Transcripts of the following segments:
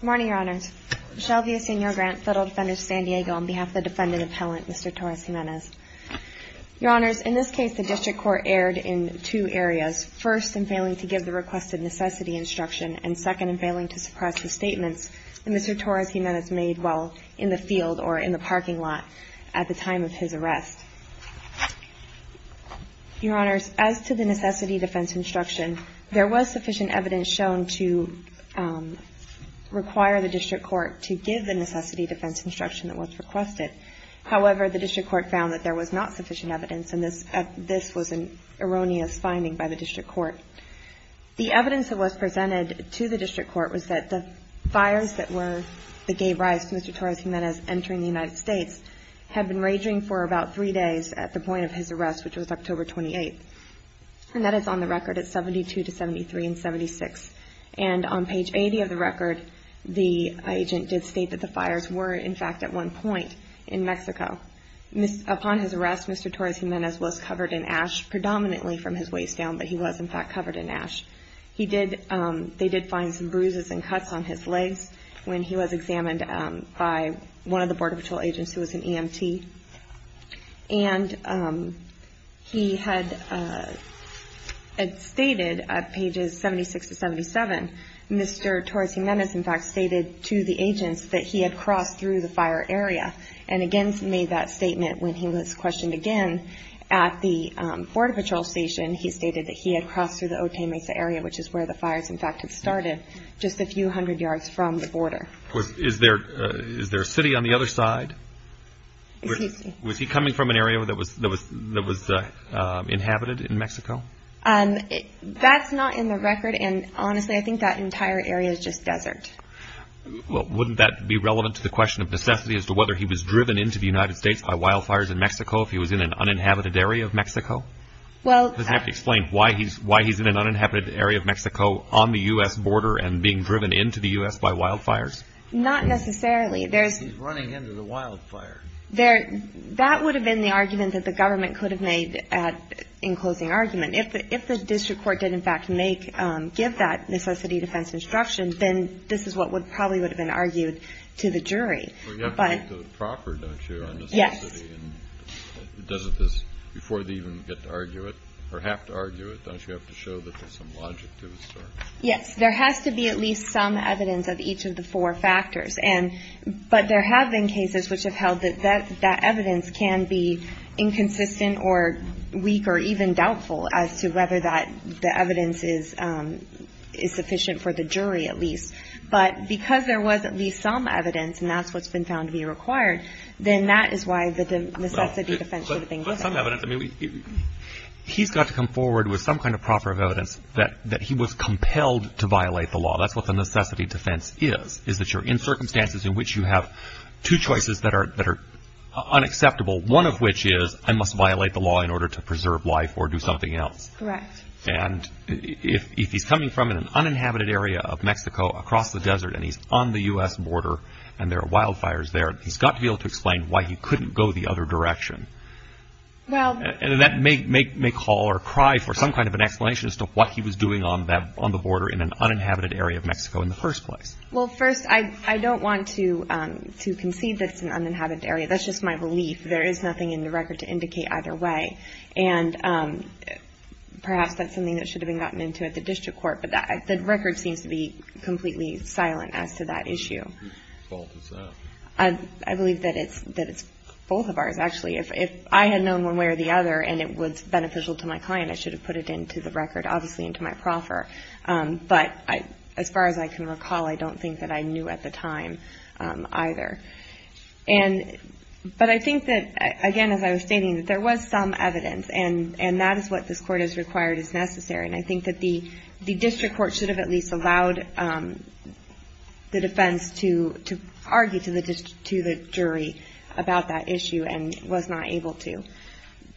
Good morning, Your Honors. Michelle Villasenor Grant, Federal Defender, San Diego, on behalf of the Defendant Appellant, Mr. Torres-Jimenez. Your Honors, in this case, the District Court erred in two areas, first in failing to give the requested necessity instruction, and second in failing to suppress the statements that Mr. Torres-Jimenez made while in the field or in the parking lot at the time of his arrest. Your Honors, as to the necessity defense instruction, there was sufficient evidence shown to require the District Court to give the necessity defense instruction that was requested. However, the District Court found that there was not sufficient evidence, and this was an erroneous finding by the District Court. The evidence that was presented to the District Court was that the fires that gave rise to Mr. Torres-Jimenez entering the United States had been raging for about three days at the point of his arrest, which was October 28th. And that is on the record at 72 to 73 and 76. And on page 80 of the record, the agent did state that the fires were, in fact, at one point in Mexico. Upon his arrest, Mr. Torres-Jimenez was covered in ash, predominantly from his waist down, but he was, in fact, covered in ash. He did, they did find some bruises and cuts on his feet. And he had stated, at pages 76 to 77, Mr. Torres-Jimenez, in fact, stated to the agents that he had crossed through the fire area. And again, he made that statement when he was questioned again at the Border Patrol Station. He stated that he had crossed through the Otay Mesa area, which is where the fires, in fact, had started, just a few hundred yards from the border. Is there a city on the other side? Was he coming from an area that was, that was inhabited in Mexico? That's not in the record. And honestly, I think that entire area is just desert. Well, wouldn't that be relevant to the question of necessity as to whether he was driven into the United States by wildfires in Mexico if he was in an uninhabited area of Mexico? Well Does it have to explain why he's in an uninhabited area of Mexico on the U.S. border and being driven by wildfires? Not necessarily. There's He's running into the wildfire. That would have been the argument that the government could have made in closing argument. If the district court did, in fact, make, give that necessity defense instruction, then this is what would probably would have been argued to the jury. But Well, you have to make the proper, don't you, on necessity? Yes. And doesn't this, before they even get to argue it, or have to argue it, don't you have to show that there's some logic to it? Yes. There has to be at least some evidence of each of the four factors. And, but there have been cases which have held that that evidence can be inconsistent or weak or even doubtful as to whether that the evidence is sufficient for the jury, at least. But because there was at least some evidence, and that's what's been found to be required, then that is why the necessity defense should have been given. But some evidence. I mean, he's got to come forward with some kind of proper evidence that he was compelled to violate the law. That's what the necessity defense is, is that you're in circumstances in which you have two choices that are unacceptable, one of which is I must violate the law in order to preserve life or do something else. Correct. And if he's coming from an uninhabited area of Mexico across the desert and he's on the U.S. border and there are wildfires there, he's got to be able to explain why he couldn't go the other direction. Well I don't want to concede that it's an uninhabited area. That's just my belief. There is nothing in the record to indicate either way. And perhaps that's something that should have been gotten into at the district court, but the record seems to be completely silent as to that issue. Whose fault is that? I believe that it's both of ours, actually. If I had known one way or the other and it was beneficial to my client, I should have put it into the record, obviously into my proffer. But as far as I can recall, I don't think that I knew at the time either. But I think that, again, as I was stating, there was some evidence and that is what this court has required as necessary. And I think that the district court should have at least allowed the defense to argue to the jury about that issue and was not able to.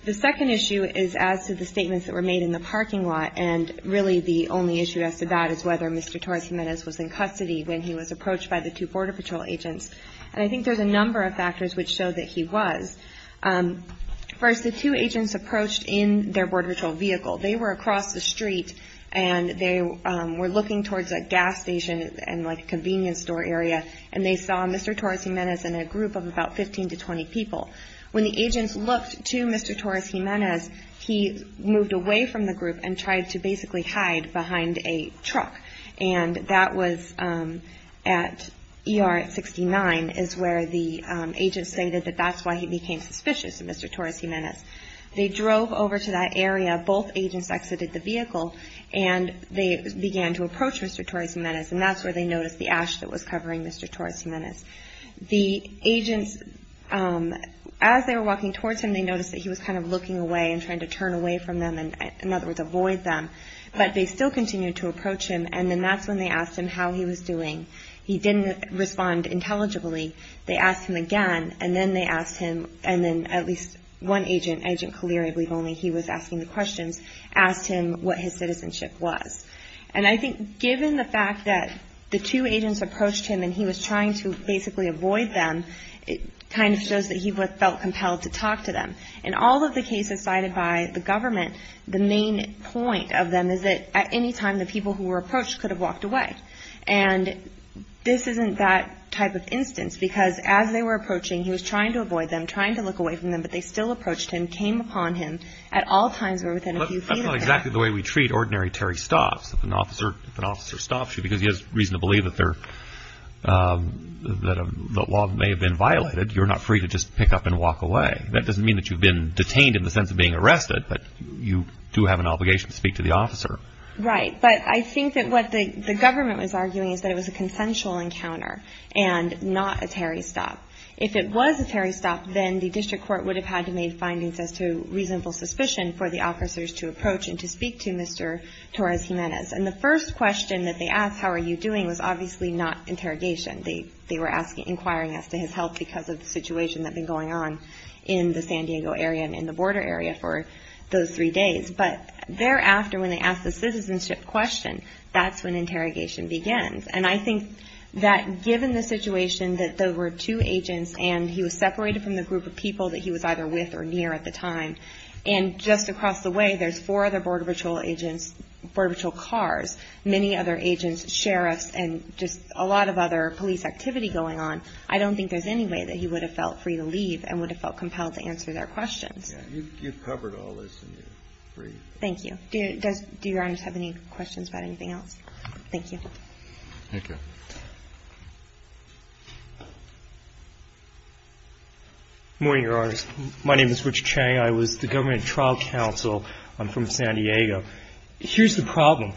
The second issue is as to the statements that were made in the parking lot. And really the only issue as to that is whether Mr. Torres Jimenez was in custody when he was approached by the two Border Patrol agents. And I think there's a number of factors which show that he was. First, the two agents approached in their Border Patrol vehicle. They were across the street and they were looking towards a gas station and, like, a convenience store area, and they saw Mr. Torres Jimenez and a group of about 15 to 20 people. When the agents looked to Mr. Torres Jimenez, he moved away from the group and tried to basically hide behind a truck. And that was at ER 69 is where the agents stated that that's why he became suspicious of Mr. Torres Jimenez. They drove over to that area. Both agents exited the vehicle and they began to approach Mr. Torres Jimenez. And that's where they noticed the as they were walking towards him, they noticed that he was kind of looking away and trying to turn away from them and, in other words, avoid them. But they still continued to approach him. And then that's when they asked him how he was doing. He didn't respond intelligibly. They asked him again. And then they asked him. And then at least one agent, Agent Collier, I believe only, he was asking the questions, asked him what his citizenship was. And I think given the fact that the two agents approached him and he was trying to basically avoid them, it kind of shows that he felt compelled to talk to them. In all of the cases cited by the government, the main point of them is that at any time the people who were approached could have walked away. And this isn't that type of instance because as they were approaching, he was trying to avoid them, trying to look away from them, but they still approached him, came upon him at all times or within a few feet of him. That's not exactly the way we treat ordinary Terry Stotts. If an officer stops you because he has reason to believe that the law may have been violated, you're not free to just pick up and walk away. That doesn't mean that you've been detained in the sense of being arrested, but you do have an obligation to speak to the officer. Right. But I think that what the government was arguing is that it was a consensual encounter and not a Terry Stott. If it was a Terry Stott, then the district court would have had to make findings as to reasonable suspicion for the officers to approach and to speak to Mr. Torres Jimenez. And the first question that they asked, how are you doing, was obviously not interrogation. They were inquiring as to his health because of the situation that had been going on in the San Diego area and in the border area for those three days. But thereafter, when they asked the citizenship question, that's when interrogation begins. And I think that given the situation that there were two agents and he was separated from the group of people that he was either with or near at the time, and just across the way there's four other Border Patrol agents, Border Patrol cars, many other agents, sheriffs, and just a lot of other police activity going on, I don't think there's any way that he would have felt free to leave and would have felt compelled to answer their questions. Yeah. You've covered all this, and you're free. Thank you. Do Your Honors have any questions about anything else? Thank you. Thank you. Good morning, Your Honors. My name is Richard Chang. I was the government trial counsel. I'm from San Diego. Here's the problem.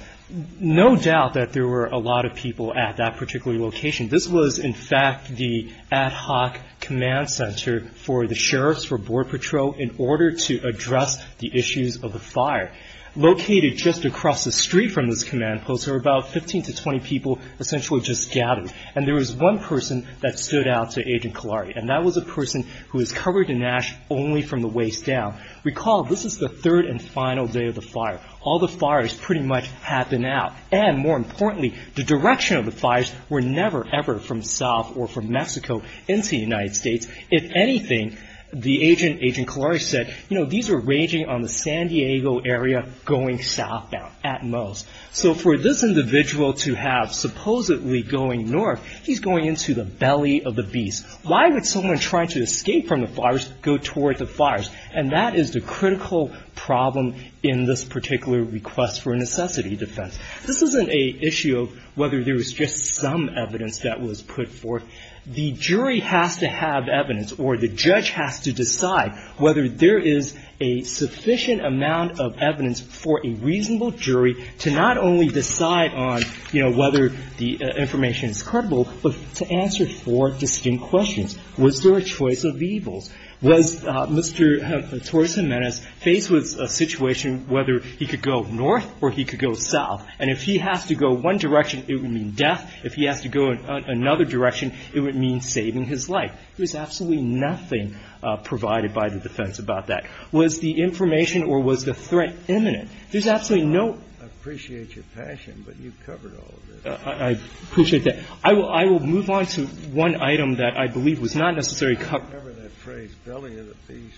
No doubt that there were a lot of people at that particular location. This was, in fact, the ad hoc command center for the sheriffs for Border Patrol in order to address the issues of the fire. Located just across the street from this command post, there were about 15 to 20 people essentially just gathered, and there was one person that stood out to Agent Kilari, and that was a person who was covered in ash only from the waist down. Recall, this is the third and final day of the fire. All the fires pretty much happened out, and more importantly, the direction of the fires were never, ever from south or from Mexico into the United States. If anything, Agent Kilari said, you know, these are raging on the San Diego area going southbound at most. So for this individual to have supposedly going north, he's going into the belly of the beast. Why would someone trying to escape from the fires go toward the fires? And that is the critical problem in this particular request for necessity defense. This isn't an issue of whether there was just some evidence that was put forth. The jury has to have evidence, or the judge has to decide whether there is a sufficient amount of evidence for a reasonable jury to not only decide on, you know, whether the information is credible, but to answer four distinct questions. Was there a choice of evils? Was Mr. Torres-Jimenez faced with a situation whether he could go north or he could go south? And if he has to go one direction, it would mean death. If he has to go another direction, it would mean saving his life. There's absolutely nothing provided by the defense about that. Was the information or was the threat imminent? There's absolutely no – I appreciate your passion, but you've covered all of this. I appreciate that. I will move on to one item that I believe was not necessarily covered. I don't remember that phrase, belly of the beast.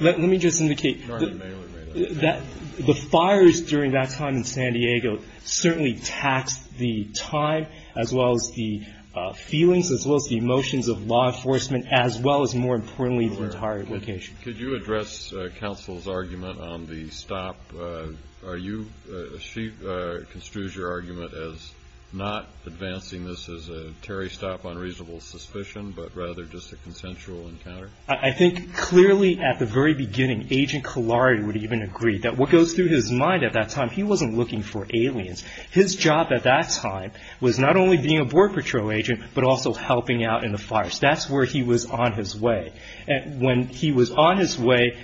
Let me just indicate that the fires during that time in San Diego certainly taxed the time, as well as the feelings, as well as the emotions of law enforcement, as well as, more importantly, the entire location. Could you address counsel's argument on the stop? Are you – she construes your argument as not advancing this as a Terry stop on reasonable suspicion, but rather just a consensual encounter? I think clearly at the very beginning, Agent Kolari would even agree that what goes through his mind at that time, he wasn't looking for aliens. His job at that time was not only being a Border Patrol agent, but also helping out in the fires. That's where he was on his way. When he was on his way,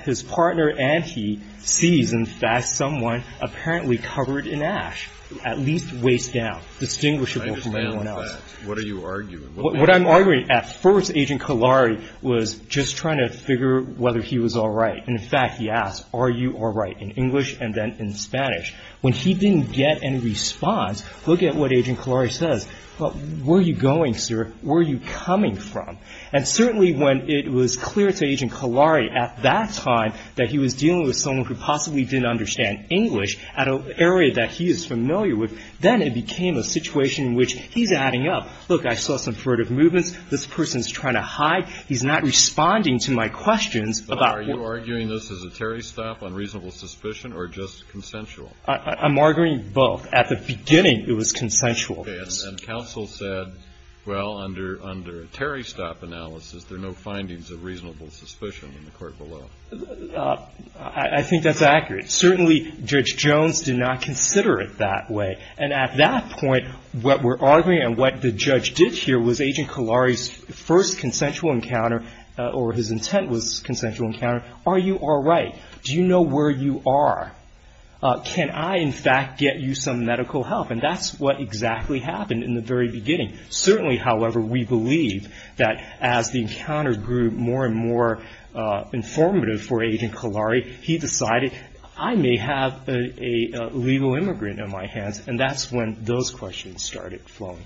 his partner and he sees, in fact, someone apparently covered in ash, at least waist down, distinguishable from anyone else. I understand that. What are you arguing? What I'm arguing, at first, Agent Kolari was just trying to figure whether he was all right. And, in fact, he asked, are you all right, in English and then in Spanish. When he didn't get any response, look at what Agent Kolari says. Where are you going, sir? Where are you coming from? And certainly when it was clear to Agent Kolari at that time that he was dealing with someone who possibly didn't understand English at an area that he is familiar with, then it became a situation in which he's adding up. Look, I saw some furtive movements. This person is trying to hide. He's not responding to my questions about – Are you arguing this as a Terry stop on reasonable suspicion or just consensual? I'm arguing both. At the beginning, it was consensual. Okay. And counsel said, well, under a Terry stop analysis, there are no findings of reasonable suspicion in the court below. I think that's accurate. Certainly, Judge Jones did not consider it that way. And at that point, what we're arguing and what the judge did here was Agent Kolari's first consensual encounter. Are you all right? Do you know where you are? Can I, in fact, get you some medical help? And that's what exactly happened in the very beginning. Certainly, however, we believe that as the encounter grew more and more informative for Agent Kolari, he decided, I may have a legal immigrant in my hands. And that's when those questions started flowing.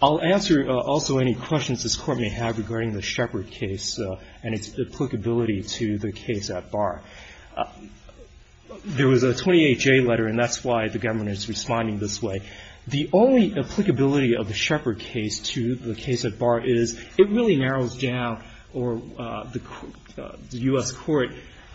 I'll answer also any questions this Court may have regarding the Shepherd case and its applicability to the case at bar. There was a 28-J letter, and that's why the government is responding this way. The only applicability of the Shepherd case to the case at bar is it really narrows down or the U.S. Court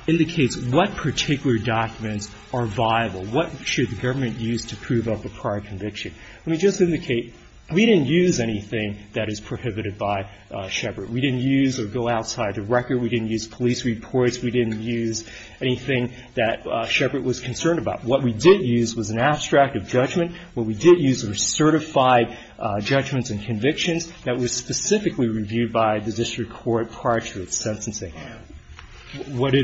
indicates what particular documents are viable, what should the government use to prove up a prior conviction. Let me just indicate, we didn't use anything that is prohibited by Shepherd. We didn't use or go outside the record. We didn't use police reports. We didn't use anything that Shepherd was concerned about. What we did use was an abstract of judgment. What we did use were certified judgments and convictions that were specifically reviewed by the district court prior to its sentencing. What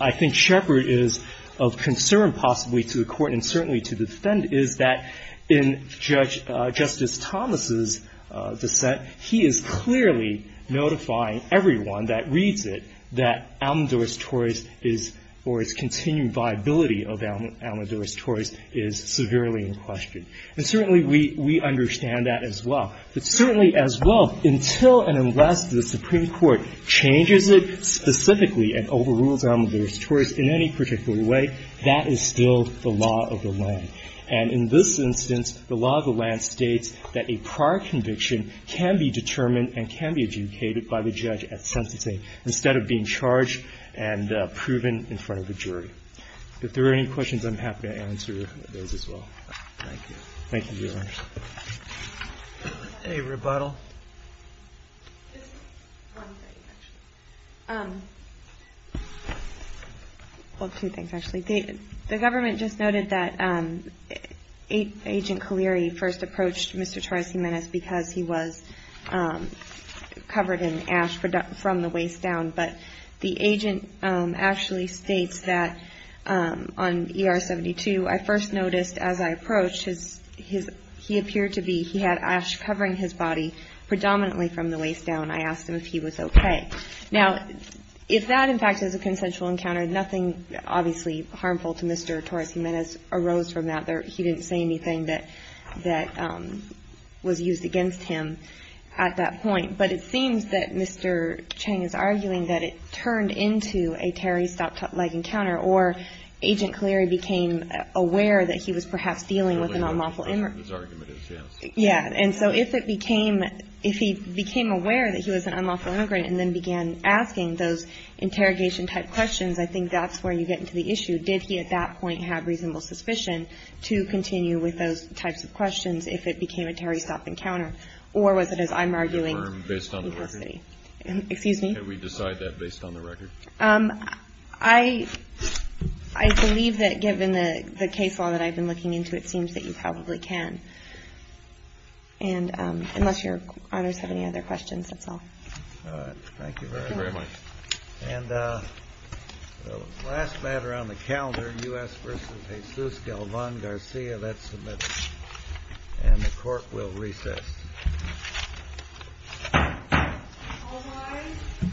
I think Shepherd is of concern possibly to the Court and certainly to the defendant is that in Justice Thomas' dissent, he is clearly notifying everyone that reads it that Almodores-Torres is or its continued viability of Almodores-Torres is severely in question. And certainly we understand that as well. But certainly as well, until and unless the Supreme Court changes it specifically and overrules Almodores-Torres in any particular way, that is still the law of the land. And in this instance, the law of the land states that a prior conviction can be determined and can be adjudicated by the judge at sentencing instead of being charged and proven in front of a jury. If there are any questions, I'm happy to answer those as well. Thank you. Thank you, Your Honors. Any rebuttal? Just one thing, actually. Well, two things, actually. The government just noted that Agent Kalleri first approached Mr. Torres Jimenez because he was covered in ash from the waist down. But the agent actually states that on ER-72, I first noticed as I approached, he appeared to be he had ash covering his body predominantly from the waist down. I asked him if he was okay. Now, if that, in fact, is a consensual encounter, nothing obviously harmful to Mr. Torres Jimenez arose from that. He didn't say anything that was used against him at that point. But it seems that Mr. Chang is arguing that it turned into a terri-stop-leg encounter or Agent Kalleri became aware that he was perhaps dealing with an unlawful immigrant. Yeah. And so if it became, if he became aware that he was an unlawful immigrant and then began asking those interrogation type questions, I think that's where you get into the issue. Did he at that point have reasonable suspicion to continue with those types of questions if it became a terri-stop encounter? Or was it as I'm I believe that given the case law that I've been looking into, it seems that you probably can. And unless your honors have any other questions, that's all. All right. Thank you very much. And the last matter on the calendar, U.S. versus Jesus Galvan Garcia, that's submitted. And the court will recess. All rise.